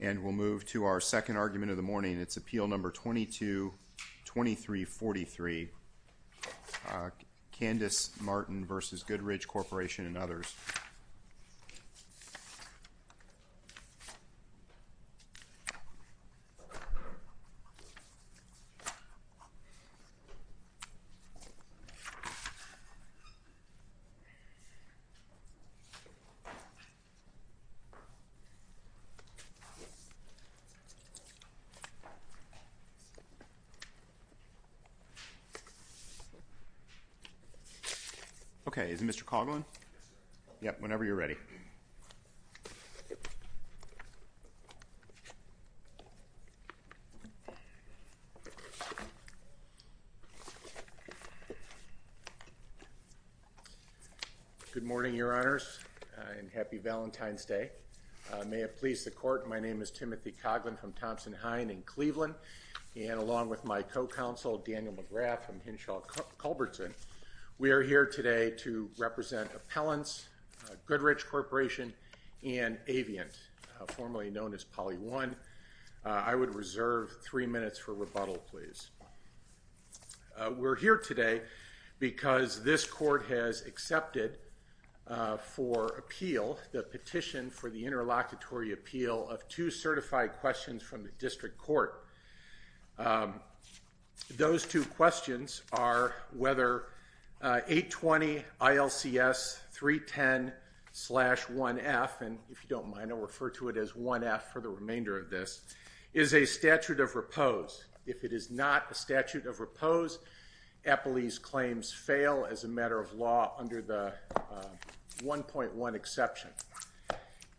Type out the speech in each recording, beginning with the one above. And we'll move to our second argument of the morning. It's appeal number 22 2343 Candice Martin versus Goodrich Corporation and others Okay, is it Mr. Coughlin? Yep, whenever you're ready. Good morning, your honors and happy Valentine's Day. May it please the court. My name is Timothy Coughlin from Thompson Hine in Cleveland and along with my co-counsel Daniel McGrath from Hinshaw Culbertson. We are here today to represent appellants, Goodrich Corporation, and Aviant, formerly known as Poly 1. I would reserve three minutes for rebuttal, please. We're here today because this court has accepted for appeal the petition for the interlocutory appeal of two certified questions from the district court. Those two questions are whether 820 ILCS 310-1F, and if you don't mind I'll refer to it as 1F for the remainder of this, is a statute of repose. If it is not a statute of repose, appellee's claims fail as a matter of law under the 1.1 exception.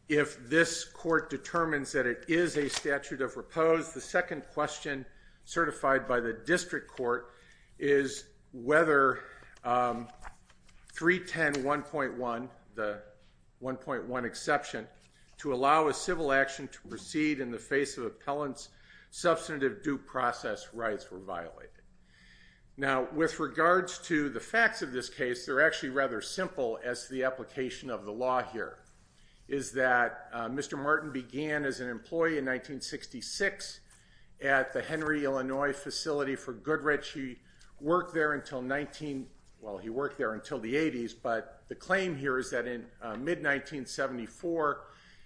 If this court determines that it is a statute of repose, the second question certified by the district court is whether 310-1.1, the 1.1 exception, to allow a civil action to proceed in the face of appellant's substantive due process. Now, with regards to the facts of this case, they're actually rather simple as to the application of the law here, is that Mr. Martin began as an employee in 1966 at the Henry, Illinois facility for Goodrich. He worked there until the 80s, but the claim here is that in mid-1974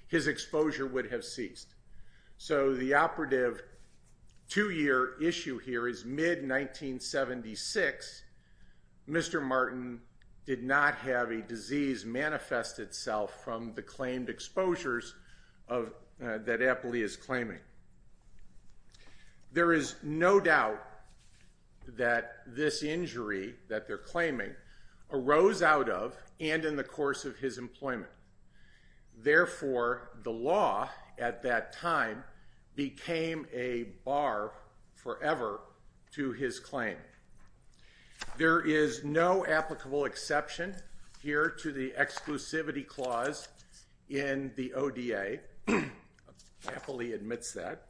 his exposure would have ceased. So the operative two-year issue here is mid-1976, Mr. Martin did not have a disease manifest itself from the claimed exposures that appellee is claiming. There is no doubt that this injury that they're claiming arose out of and in the course of his employment. Therefore, the law at that time became a bar forever to his claim. There is no applicable exception here to the exclusivity clause in the ODA. Appellee admits that.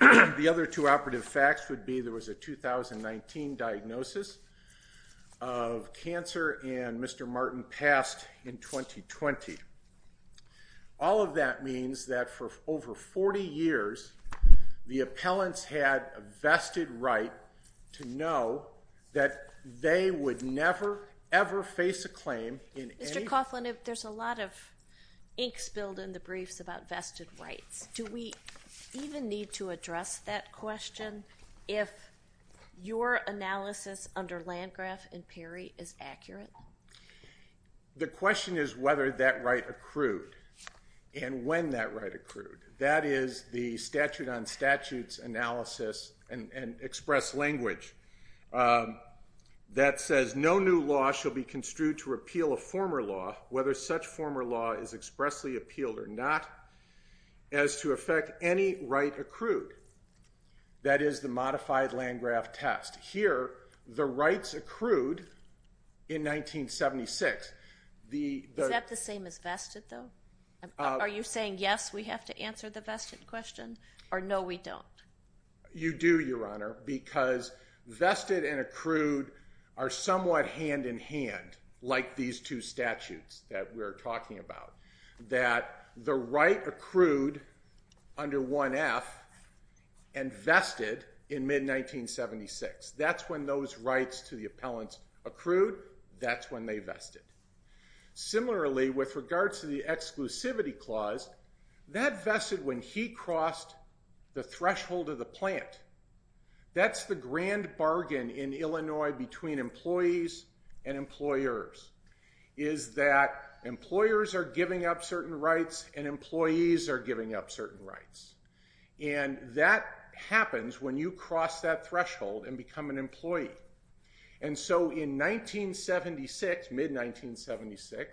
The other two operative facts would be there was a 2019 diagnosis of cancer and Mr. Martin passed in 2020. All of that means that for over 40 years, the appellants had a vested right to know that they would never, ever face a claim in any... Mr. Coughlin, there's a lot of ink spilled in the briefs about vested rights. Do we even need to address that question if your analysis under Landgraf and Perry is accurate? The question is whether that right accrued and when that right accrued. That is the statute on statutes analysis and express language that says, no new law shall be construed to repeal a former law, whether such former law is expressly appealed or not, as to affect any right accrued. That is the modified Landgraf test. Here, the rights accrued in 1976. Is that the same as vested though? Are you saying yes, we have to answer the vested question or no, we don't? You do, Your Honor, because vested and accrued are somewhat hand in hand, like these two statutes that we're talking about. That the right accrued under 1F and vested in mid-1976. That's when those rights to the appellants accrued. That's when they vested. Similarly, with regards to the exclusivity clause, that vested when he crossed the threshold of the plant. That's the grand bargain in Illinois between employees and employers. Employers are giving up certain rights and employees are giving up certain rights. That happens when you cross that threshold and become an employee. And so in 1976, mid-1976,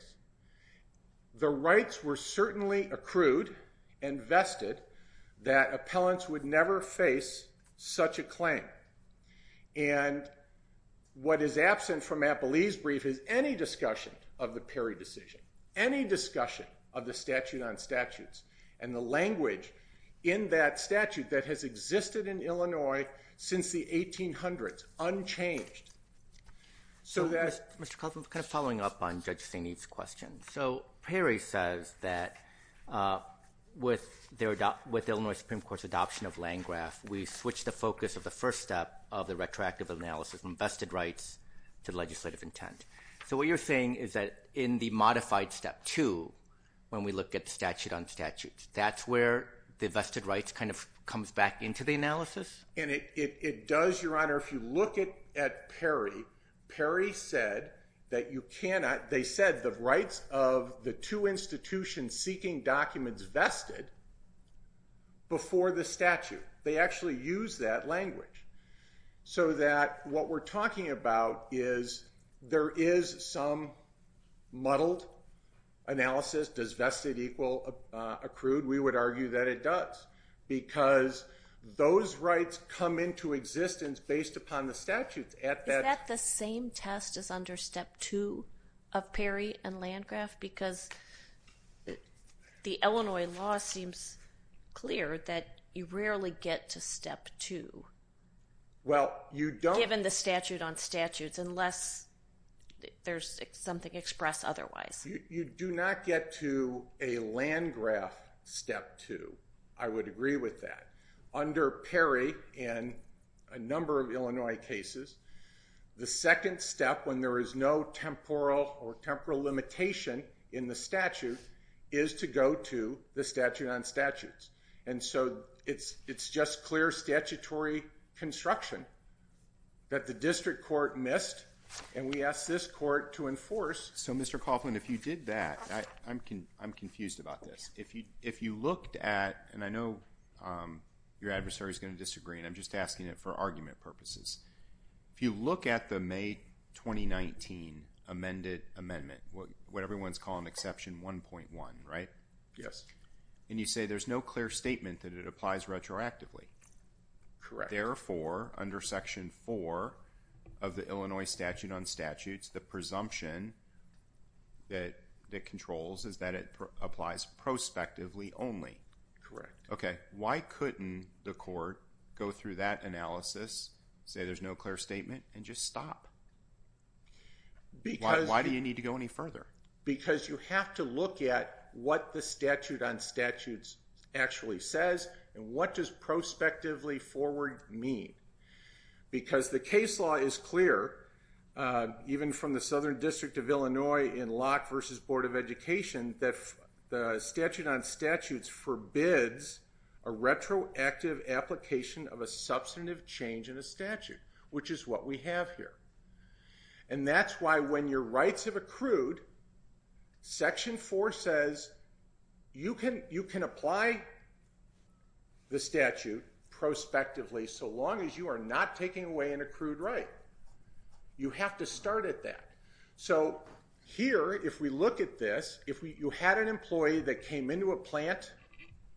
the rights were certainly accrued and vested that appellants would never face such a claim. And what is absent from Appelee's brief is any discussion of the Perry decision. Any discussion of the statute on statutes and the language in that statute that has existed in Illinois since the 1800s, unchanged. So Mr. Kaufman, kind of following up on Judge St. Eve's question. So Perry says that with Illinois Supreme Court's adoption of Landgraf, we switched the focus of the first step of the retroactive analysis from vested rights to legislative intent. So what you're saying is that in the modified step two, when we look at the statute on statutes, that's where the vested rights kind of comes back into the analysis? And it does, Your Honor. If you look at Perry, Perry said that you cannot, they said the rights of the two institutions seeking documents vested before the statute. They actually use that language. So that what we're talking about is there is some muddled analysis. Does vested equal accrued? We would argue that it does. Because those rights come into existence based upon the statute. Is that the same test as under step two of Perry and Landgraf? Because the Illinois law seems clear that you rarely get to step two, given the statute on statutes, unless there's something expressed otherwise. You do not get to a Landgraf step two. I would agree with that. Under Perry and a number of Illinois cases, the second step when there is no temporal or temporal limitation in the statute is to go to the statute on statutes. And so it's just clear statutory construction that the district court missed, and we asked this court to enforce. So Mr. Coughlin, if you did that, I'm confused about this. If you looked at, and I know your adversary is going to disagree, and I'm just asking it for argument purposes. If you look at the May 2019 amended amendment, what everyone's calling exception 1.1, right? Yes. And you say there's no clear statement that it applies retroactively. Correct. Therefore, under section four of the Illinois statute on statutes, the presumption that it controls is that it applies prospectively only. Correct. Okay. Why couldn't the court go through that analysis, say there's no clear statement, and just stop? Why do you need to go any further? Because you have to look at what the statute on statutes actually says and what does prospectively forward mean? Because the case law is clear, even from the Southern District of Illinois in Locke v. Board of Education, that the statute on statutes forbids a retroactive application of a substantive change in a statute, which is what we have here. And that's why when your rights have accrued, section four says you can apply the statute prospectively so long as you are not taking away an accrued right. You have to start at that. So here, if we look at this, if you had an employee that came into a plant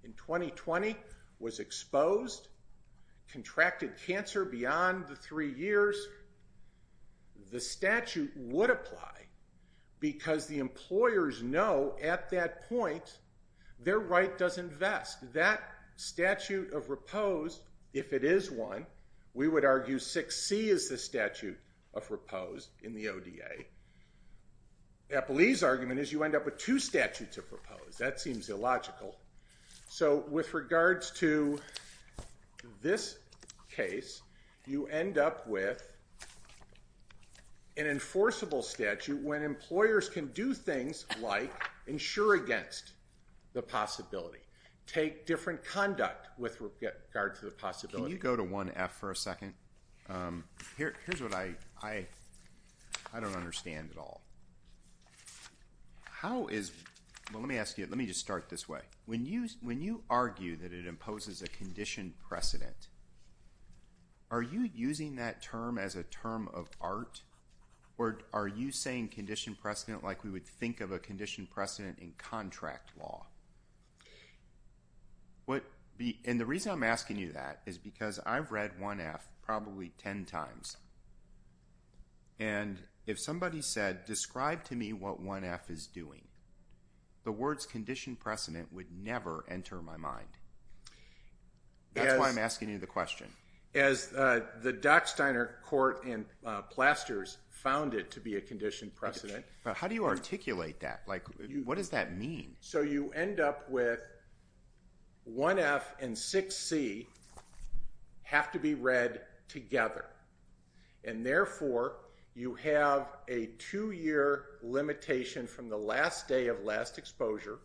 in 2020, was exposed, contracted cancer beyond the three years, the statute would apply because the employers know at that point their right doesn't vest. That statute of repose, if it is one, we would argue 6C is the statute of repose in the ODA. Eppley's argument is you end up with two statutes of repose. That seems illogical. So with regards to this case, you end up with an enforceable statute when employers can do things like insure against the possibility, take different conduct with regard to the possibility. Can you go to 1F for a second? Here's what I don't understand at all. How is, let me ask you, let me just start this way. When you argue that it imposes a condition precedent, are you using that term as a term of art? Or are you saying condition precedent like we would think of a condition precedent in contract law? And the reason I'm asking you that is because I've read 1F probably 10 times. And if somebody said, describe to me what 1F is doing, the words condition precedent would never enter my mind. That's why I'm asking you the question. As the Docksteiner court in Plasters found it to be a condition precedent. But how do you articulate that? Like, what does that mean? So you end up with 1F and 6C have to be read together. And therefore, you have a two-year limitation from the last day of last exposure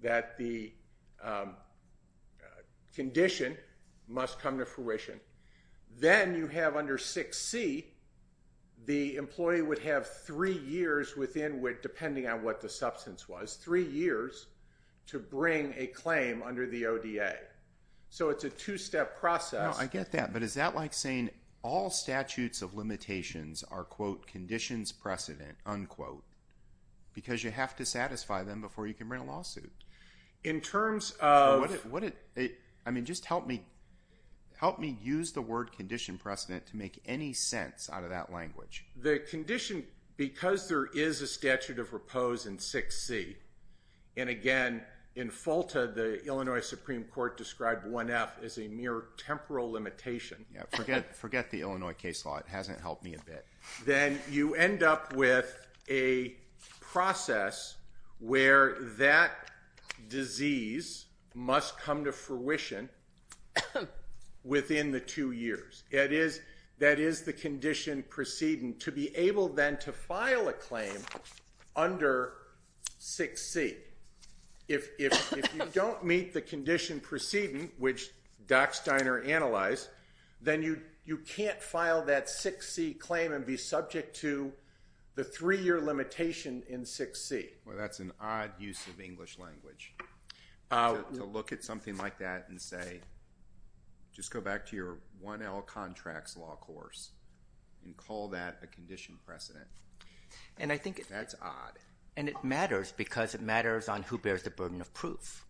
that the condition must come to fruition. Then you have under 6C, the employee would have three years within, depending on what the substance was, three years to bring a claim under the ODA. So it's a two-step process. No, I get that. But is that like saying all statutes of limitations are, quote, conditions precedent, unquote, because you have to satisfy them before you can bring a lawsuit? I mean, just help me use the word condition precedent to make any sense out of that language. The condition, because there is a statute of repose in 6C, and again, in Fulta, the Illinois Supreme Court described 1F as a mere temporal limitation. Forget the Illinois case law. It hasn't helped me a bit. Then you end up with a process where that disease must come to fruition within the two years. That is the condition precedent to be able then to file a claim under 6C. If you don't meet the condition precedent, which Doc Steiner analyzed, then you can't file that 6C claim and be subject to the three-year limitation in 6C. Well, that's an odd use of English language, to look at something like that and say, just go back to your 1L contracts law course and call that a condition precedent. That's odd. It matters because it matters on who bears the burden of proof.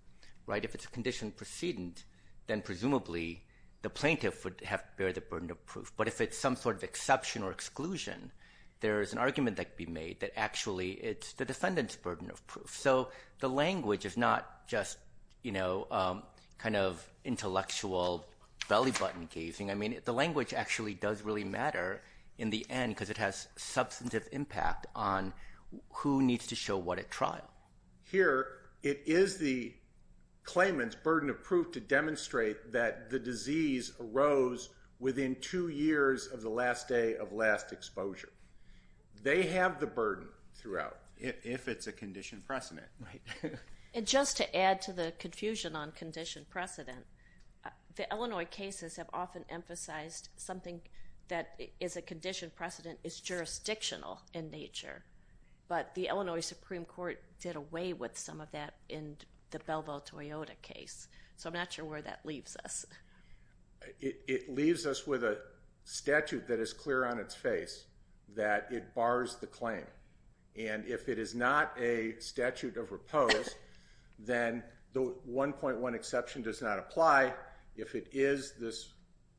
If it's a condition precedent, then presumably the plaintiff would have to bear the burden of proof. But if it's some sort of exception or exclusion, there is an argument that could be made that actually it's the defendant's burden of proof. So the language is not just intellectual belly-button gazing. The language actually does really matter in the end because it has substantive impact on who needs to show what at trial. Here, it is the claimant's burden of proof to demonstrate that the disease arose within two years of the last day of last exposure. They have the burden throughout if it's a condition precedent. And just to add to the confusion on condition precedent, the Illinois cases have often emphasized something that is a condition precedent is jurisdictional in nature. But the Illinois Supreme Court did away with some of that in the Belleville-Toyota case. So I'm not sure where that leaves us. It leaves us with a statute that is clear on its face that it bars the claim. And if it is not a statute of repose, then the 1.1 exception does not apply. If it is this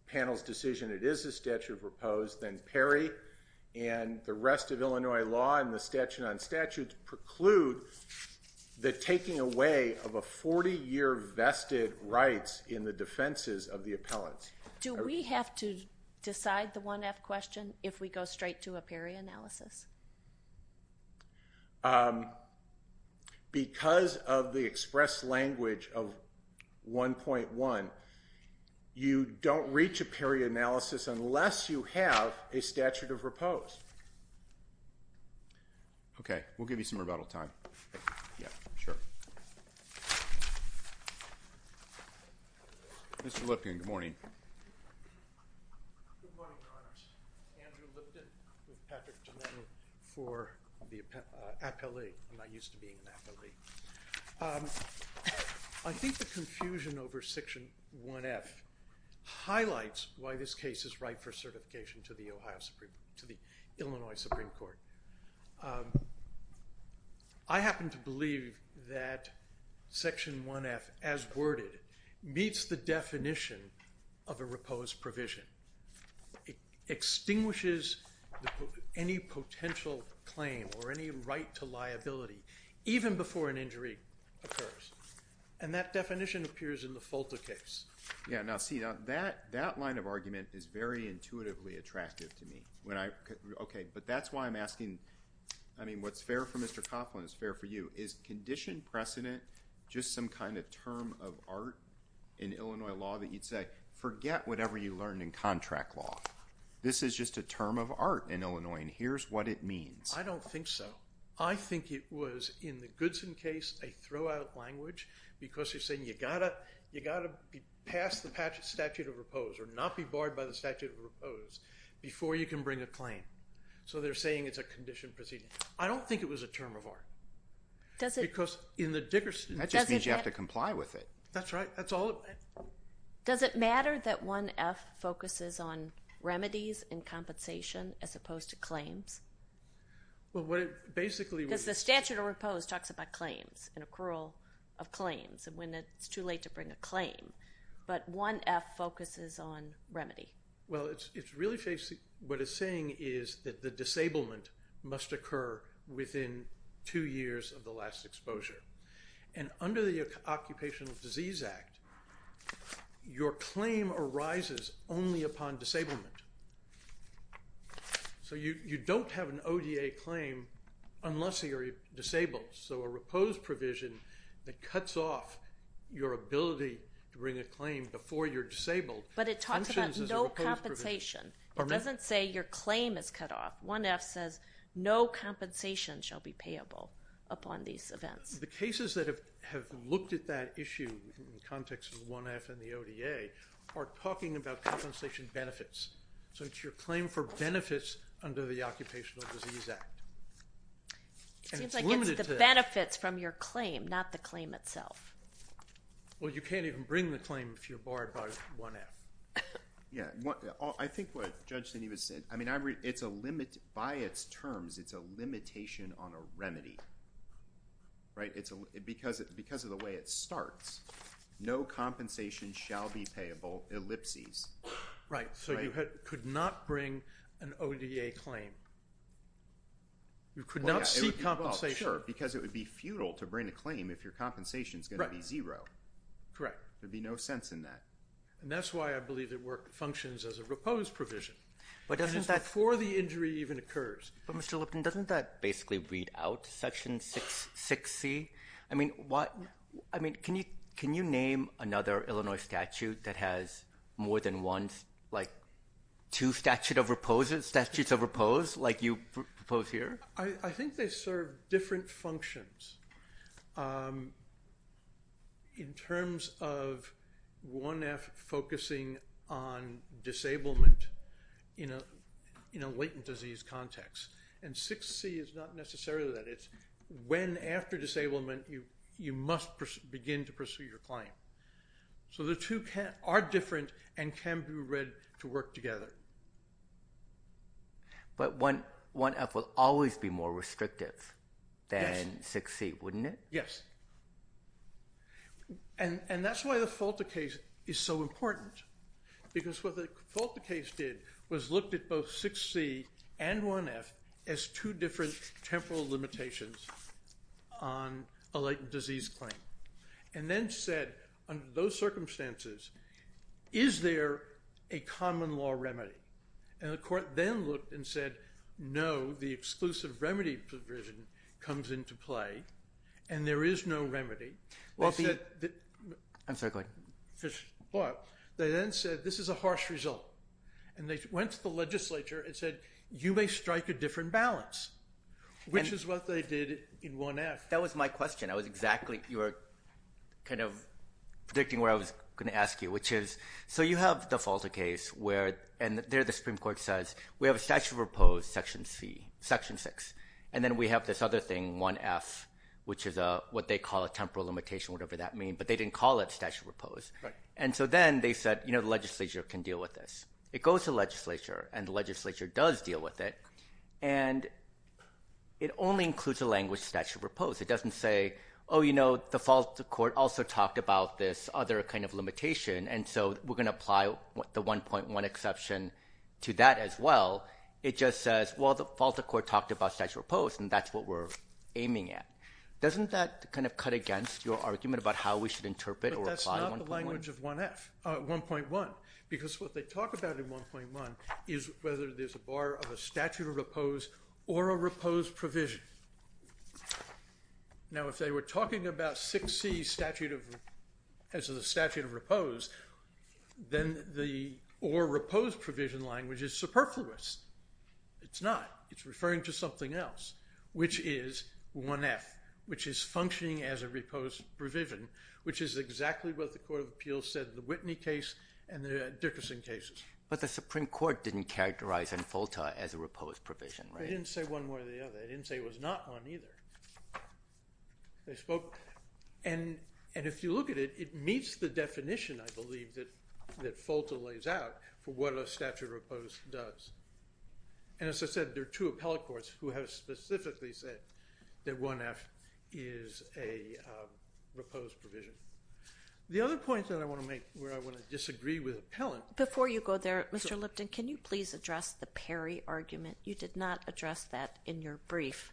panel's decision, it is a statute of repose, then PERI and the rest of Illinois law and the statute on statutes preclude the taking away of a 40-year vested rights in the defenses of the appellants. Do we have to decide the 1F question if we go straight to a PERI analysis? Because of the express language of 1.1, you don't reach a PERI analysis unless you have a statute of repose. Okay, we'll give you some rebuttal time. Yeah, sure. Good morning, Your Honor. Andrew Lipton with Patrick Domenico for the appellee. I'm not used to being an appellee. I think the confusion over Section 1F highlights why this case is right for certification to the Illinois Supreme Court. I happen to believe that Section 1F, as worded, meets the definition of a repose provision. It extinguishes any potential claim or any right to liability, even before an injury occurs. And that definition appears in the FOLTA case. Yeah, now see, that line of argument is very intuitively attractive to me. But that's why I'm asking, I mean, what's fair for Mr. Copeland is fair for you. Is condition precedent just some kind of term of art in Illinois law that you'd say, forget whatever you learned in contract law. This is just a term of art in Illinois, and here's what it means. I don't think so. I think it was, in the Goodson case, a throw-out language because you're saying you've got to pass the statute of repose or not be barred by the statute of repose before you can bring a claim. So they're saying it's a condition precedent. I don't think it was a term of art because in the Dickerson case. That just means you have to comply with it. That's right. Does it matter that 1F focuses on remedies and compensation as opposed to claims? Because the statute of repose talks about claims and accrual of claims and when it's too late to bring a claim. But 1F focuses on remedy. Well, it's really what it's saying is that the disablement must occur within two years of the last exposure. And under the Occupational Disease Act, your claim arises only upon disablement. So you don't have an ODA claim unless you're disabled. So a repose provision that cuts off your ability to bring a claim before you're disabled functions as a repose provision. But it talks about no compensation. It doesn't say your claim is cut off. 1F says no compensation shall be payable upon these events. The cases that have looked at that issue in the context of 1F and the ODA are talking about compensation benefits. So it's your claim for benefits under the Occupational Disease Act. And it's limited to that. It seems like it's the benefits from your claim, not the claim itself. Well, you can't even bring the claim if you're barred by 1F. Yeah. I think what Judge Steney was saying, I mean, by its terms, it's a limitation on a remedy. Right? Because of the way it starts, no compensation shall be payable, ellipses. Right. So you could not bring an ODA claim. You could not seek compensation. Oh, sure, because it would be futile to bring a claim if your compensation is going to be zero. Correct. There would be no sense in that. And that's why I believe that work functions as a repose provision. But doesn't that— And it's before the injury even occurs. But, Mr. Lipton, doesn't that basically weed out Section 6C? I mean, can you name another Illinois statute that has more than one, like two statutes of repose like you propose here? I think they serve different functions in terms of 1F focusing on disablement in a latent disease context. And 6C is not necessarily that. It's when after disablement you must begin to pursue your claim. So the two are different and can be read to work together. But 1F will always be more restrictive than 6C, wouldn't it? Yes. And that's why the FOLTA case is so important. Because what the FOLTA case did was looked at both 6C and 1F as two different temporal limitations on a latent disease claim. And then said, under those circumstances, is there a common law remedy? And the court then looked and said, no, the exclusive remedy provision comes into play, and there is no remedy. I'm sorry, go ahead. They then said, this is a harsh result. And they went to the legislature and said, you may strike a different balance, which is what they did in 1F. That was my question. I was exactly, you were kind of predicting where I was going to ask you, which is, so you have the FOLTA case where, and there the Supreme Court says, we have a statute of repose, Section 6. And then we have this other thing, 1F, which is what they call a temporal limitation, whatever that means. But they didn't call it statute of repose. And so then they said, the legislature can deal with this. It goes to the legislature, and the legislature does deal with it. And it only includes the language statute of repose. It doesn't say, oh, you know, the FOLTA court also talked about this other kind of limitation, and so we're going to apply the 1.1 exception to that as well. It just says, well, the FOLTA court talked about statute of repose, and that's what we're aiming at. Doesn't that kind of cut against your argument about how we should interpret or apply 1.1? But that's not the language of 1F, 1.1. Because what they talk about in 1.1 is whether there's a bar of a statute of repose or a repose provision. Now, if they were talking about 6C as the statute of repose, then the or repose provision language is superfluous. It's not. It's referring to something else, which is 1F, which is functioning as a repose provision, which is exactly what the Court of Appeals said in the Whitney case and the Dickerson cases. But the Supreme Court didn't characterize in FOLTA as a repose provision, right? They didn't say one way or the other. They didn't say it was not one either. And if you look at it, it meets the definition, I believe, that FOLTA lays out for what a statute of repose does. And as I said, there are two appellate courts who have specifically said that 1F is a repose provision. The other point that I want to make where I want to disagree with appellant— Before you go there, Mr. Lipton, can you please address the Perry argument? You did not address that in your brief,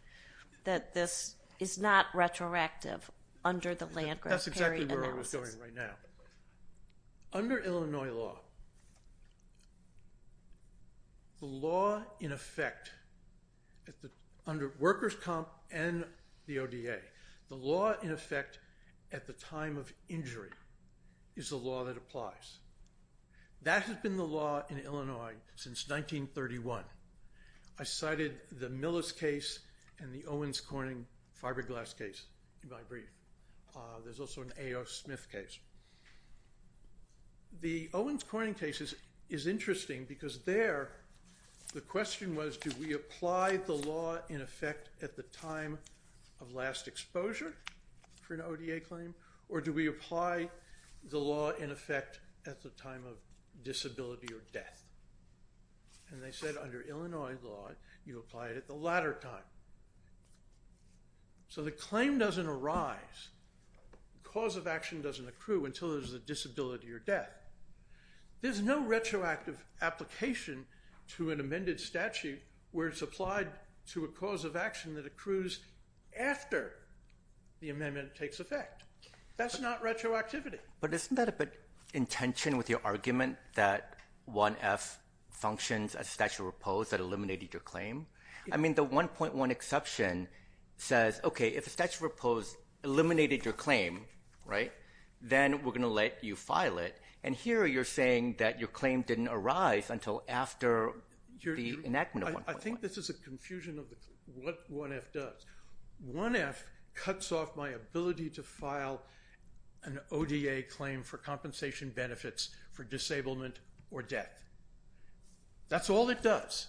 that this is not retroactive under the Landgraf-Perry analysis. That's exactly where I was going right now. Under Illinois law, the law in effect under workers' comp and the ODA, the law in effect at the time of injury is the law that applies. That has been the law in Illinois since 1931. I cited the Millis case and the Owens-Corning fiberglass case in my brief. There's also an A.O. Smith case. The Owens-Corning case is interesting because there, the question was, do we apply the law in effect at the time of last exposure for an ODA claim, or do we apply the law in effect at the time of disability or death? And they said under Illinois law, you apply it at the latter time. So the claim doesn't arise, the cause of action doesn't accrue until there's a disability or death. There's no retroactive application to an amended statute where it's applied to a cause of action that accrues after the amendment takes effect. That's not retroactivity. But isn't that a bit in tension with your argument that 1F functions as a statute of repose that eliminated your claim? I mean, the 1.1 exception says, okay, if a statute of repose eliminated your claim, right, then we're going to let you file it. And here you're saying that your claim didn't arise until after the enactment of 1.1. I think this is a confusion of what 1F does. 1F cuts off my ability to file an ODA claim for compensation benefits for disablement or death. That's all it does.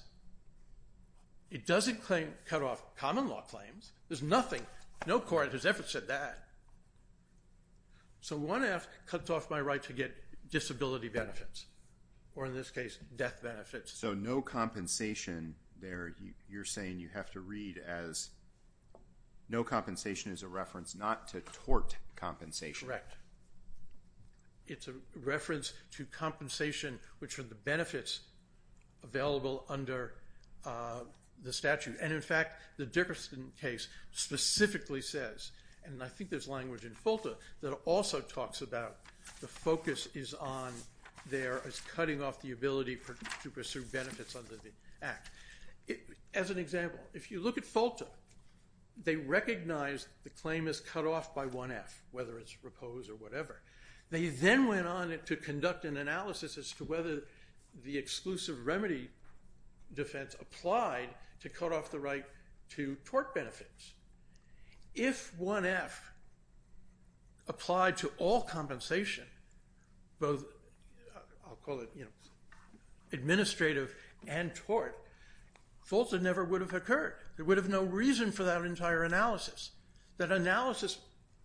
It doesn't cut off common law claims. There's nothing, no court has ever said that. So 1F cuts off my right to get disability benefits, or in this case, death benefits. So no compensation there, you're saying you have to read as no compensation is a reference not to tort compensation. Correct. It's a reference to compensation, which are the benefits available under the statute. And, in fact, the Dickerson case specifically says, and I think there's language in Fulta that also talks about the focus is on there as cutting off the ability to pursue benefits under the act. As an example, if you look at Fulta, they recognize the claim is cut off by 1F, whether it's proposed or whatever. They then went on to conduct an analysis as to whether the exclusive remedy defense applied to cut off the right to tort benefits. If 1F applied to all compensation, both I'll call it administrative and tort, Fulta never would have occurred. There would have been no reason for that entire analysis. That analysis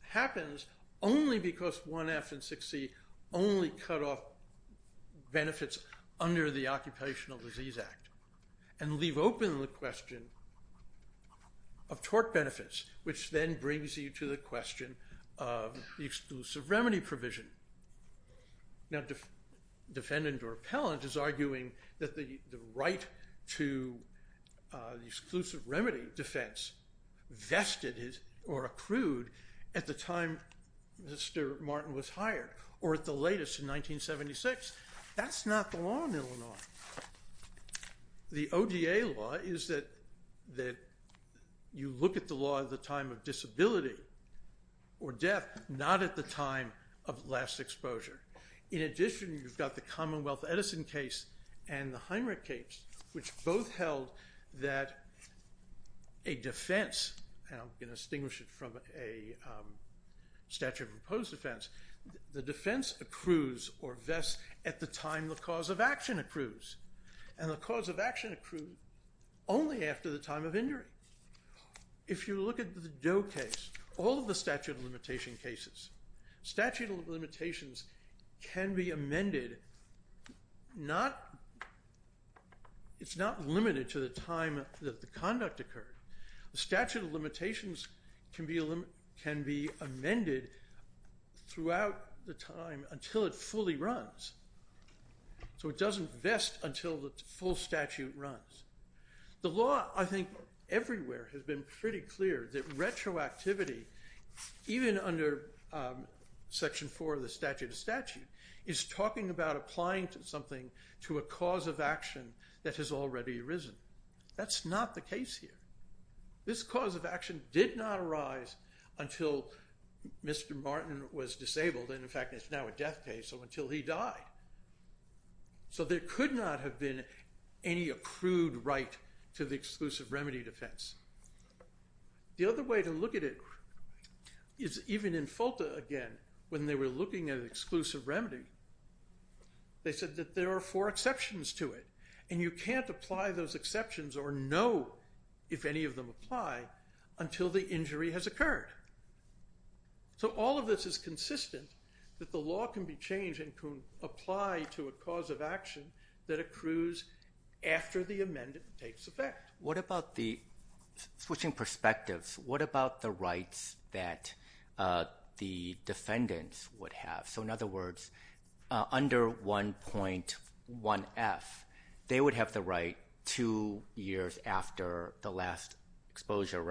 happens only because 1F and 6C only cut off benefits under the Occupational Disease Act and leave open the question of tort benefits, which then brings you to the question of the exclusive remedy provision. Now, defendant or appellant is arguing that the right to exclusive remedy defense vested or accrued at the time Mr. Martin was hired or at the latest in 1976. That's not the law in Illinois. The ODA law is that you look at the law at the time of disability or death, not at the time of last exposure. In addition, you've got the Commonwealth Edison case and the Heinrich case, which both held that a defense, and I'm going to distinguish it from a statute of opposed defense, the defense accrues or vests at the time the cause of action accrues. And the cause of action accrued only after the time of injury. If you look at the Doe case, all of the statute of limitation cases, statute of limitations can be amended. It's not limited to the time that the conduct occurred. The statute of limitations can be amended throughout the time until it fully runs, so it doesn't vest until the full statute runs. The law, I think, everywhere has been pretty clear that retroactivity, even under section four of the statute of statute, is talking about applying something to a cause of action that has already arisen. That's not the case here. This cause of action did not arise until Mr. Martin was disabled, and in fact, it's now a death case, so until he died. So there could not have been any accrued right to the exclusive remedy defense. The other way to look at it is even in FOLTA again, when they were looking at exclusive remedy, they said that there are four exceptions to it, and you can't apply those exceptions or know if any of them apply until the injury has occurred. So all of this is consistent that the law can be changed and can apply to a cause of action that accrues after the amendment takes effect. Switching perspectives, what about the rights that the defendants would have? So in other words, under 1.1F, they would have the right two years after the last exposure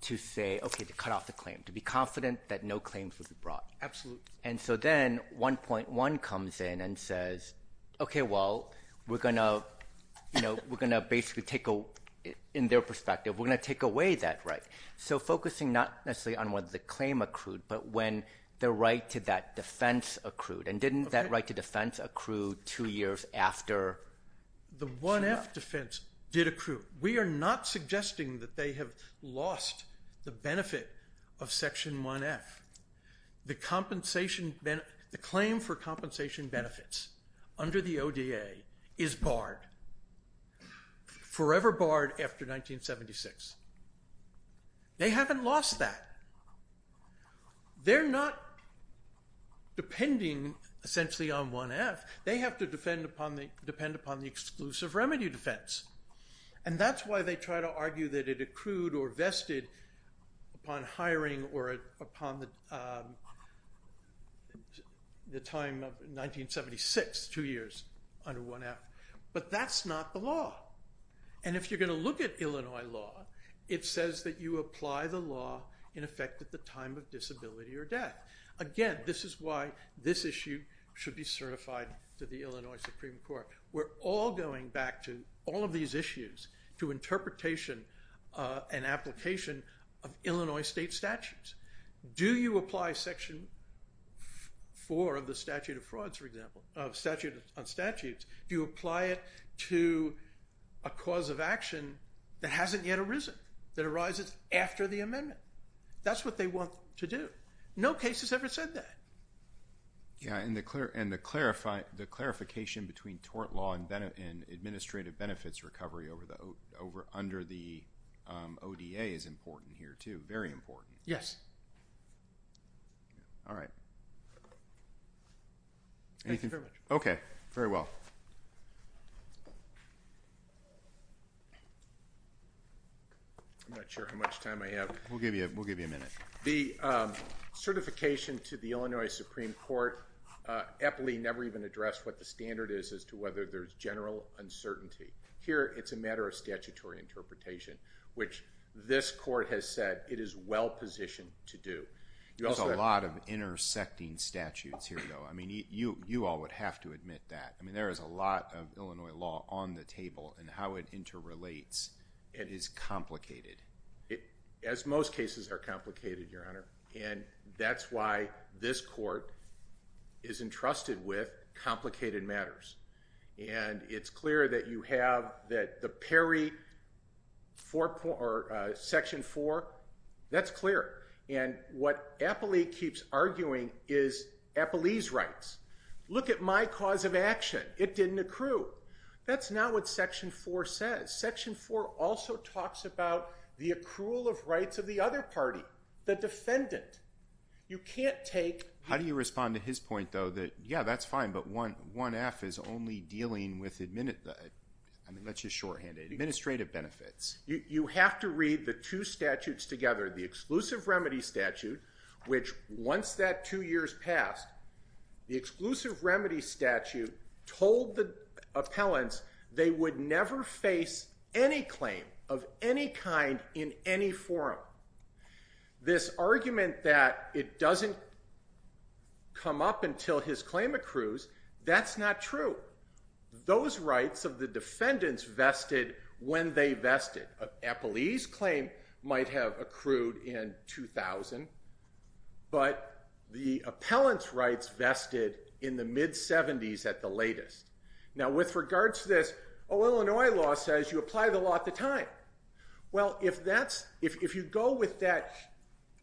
to say, okay, to cut off the claim, to be confident that no claims would be brought. Absolutely. And so then 1.1 comes in and says, okay, well, we're going to basically take, in their perspective, we're going to take away that right. So focusing not necessarily on whether the claim accrued, but when the right to that defense accrued. And didn't that right to defense accrue two years after? The 1F defense did accrue. We are not suggesting that they have lost the benefit of Section 1F. The claim for compensation benefits under the ODA is barred. Forever barred after 1976. They haven't lost that. They're not depending essentially on 1F. They have to depend upon the exclusive remedy defense. And that's why they try to argue that it accrued or vested upon hiring or upon the time of 1976, two years under 1F. But that's not the law. And if you're going to look at Illinois law, it says that you apply the law in effect at the time of disability or death. Again, this is why this issue should be certified to the Illinois Supreme Court. We're all going back to all of these issues, to interpretation and application of Illinois state statutes. Do you apply Section 4 of the statute of frauds, for example, of statute on statutes? Do you apply it to a cause of action that hasn't yet arisen, that arises after the amendment? That's what they want to do. No case has ever said that. Yeah, and the clarification between tort law and administrative benefits recovery under the ODA is important here, too. Very important. Yes. All right. Thank you very much. Okay, very well. I'm not sure how much time I have. We'll give you a minute. The certification to the Illinois Supreme Court aptly never even addressed what the standard is as to whether there's general uncertainty. Here, it's a matter of statutory interpretation, which this court has said it is well positioned to do. There's a lot of intersecting statutes here, though. I mean, you all would have to admit that. I mean, there is a lot of Illinois law on the table, and how it interrelates is complicated. As most cases are complicated, Your Honor. And that's why this court is entrusted with complicated matters. And it's clear that you have that the Perry Section 4, that's clear. And what Apley keeps arguing is Apley's rights. Look at my cause of action. It didn't accrue. That's not what Section 4 says. Section 4 also talks about the accrual of rights of the other party, the defendant. You can't take— How do you respond to his point, though, that, yeah, that's fine, but 1F is only dealing with administrative benefits? You have to read the two statutes together. The Exclusive Remedy Statute, which once that two years passed, the Exclusive Remedy Statute told the appellants they would never face any claim of any kind in any forum. This argument that it doesn't come up until his claim accrues, that's not true. Those rights of the defendants vested when they vested. Apley's claim might have accrued in 2000, but the appellant's rights vested in the mid-'70s at the latest. Now, with regard to this, oh, Illinois law says you apply the law at the time. Well, if you go with that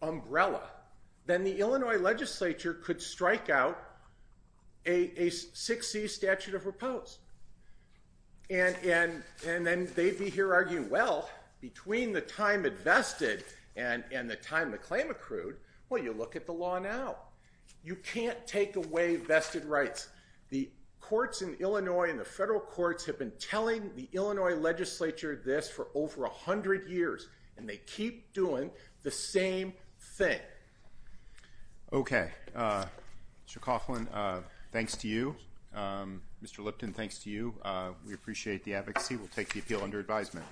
umbrella, then the Illinois legislature could strike out a 6C statute of repose. And then they'd be here arguing, well, between the time it vested and the time the claim accrued, well, you look at the law now. You can't take away vested rights. The courts in Illinois and the federal courts have been telling the Illinois legislature this for over 100 years, and they keep doing the same thing. Okay. Mr. Coughlin, thanks to you. Mr. Lipton, thanks to you. We appreciate the advocacy. We'll take the appeal under advisement.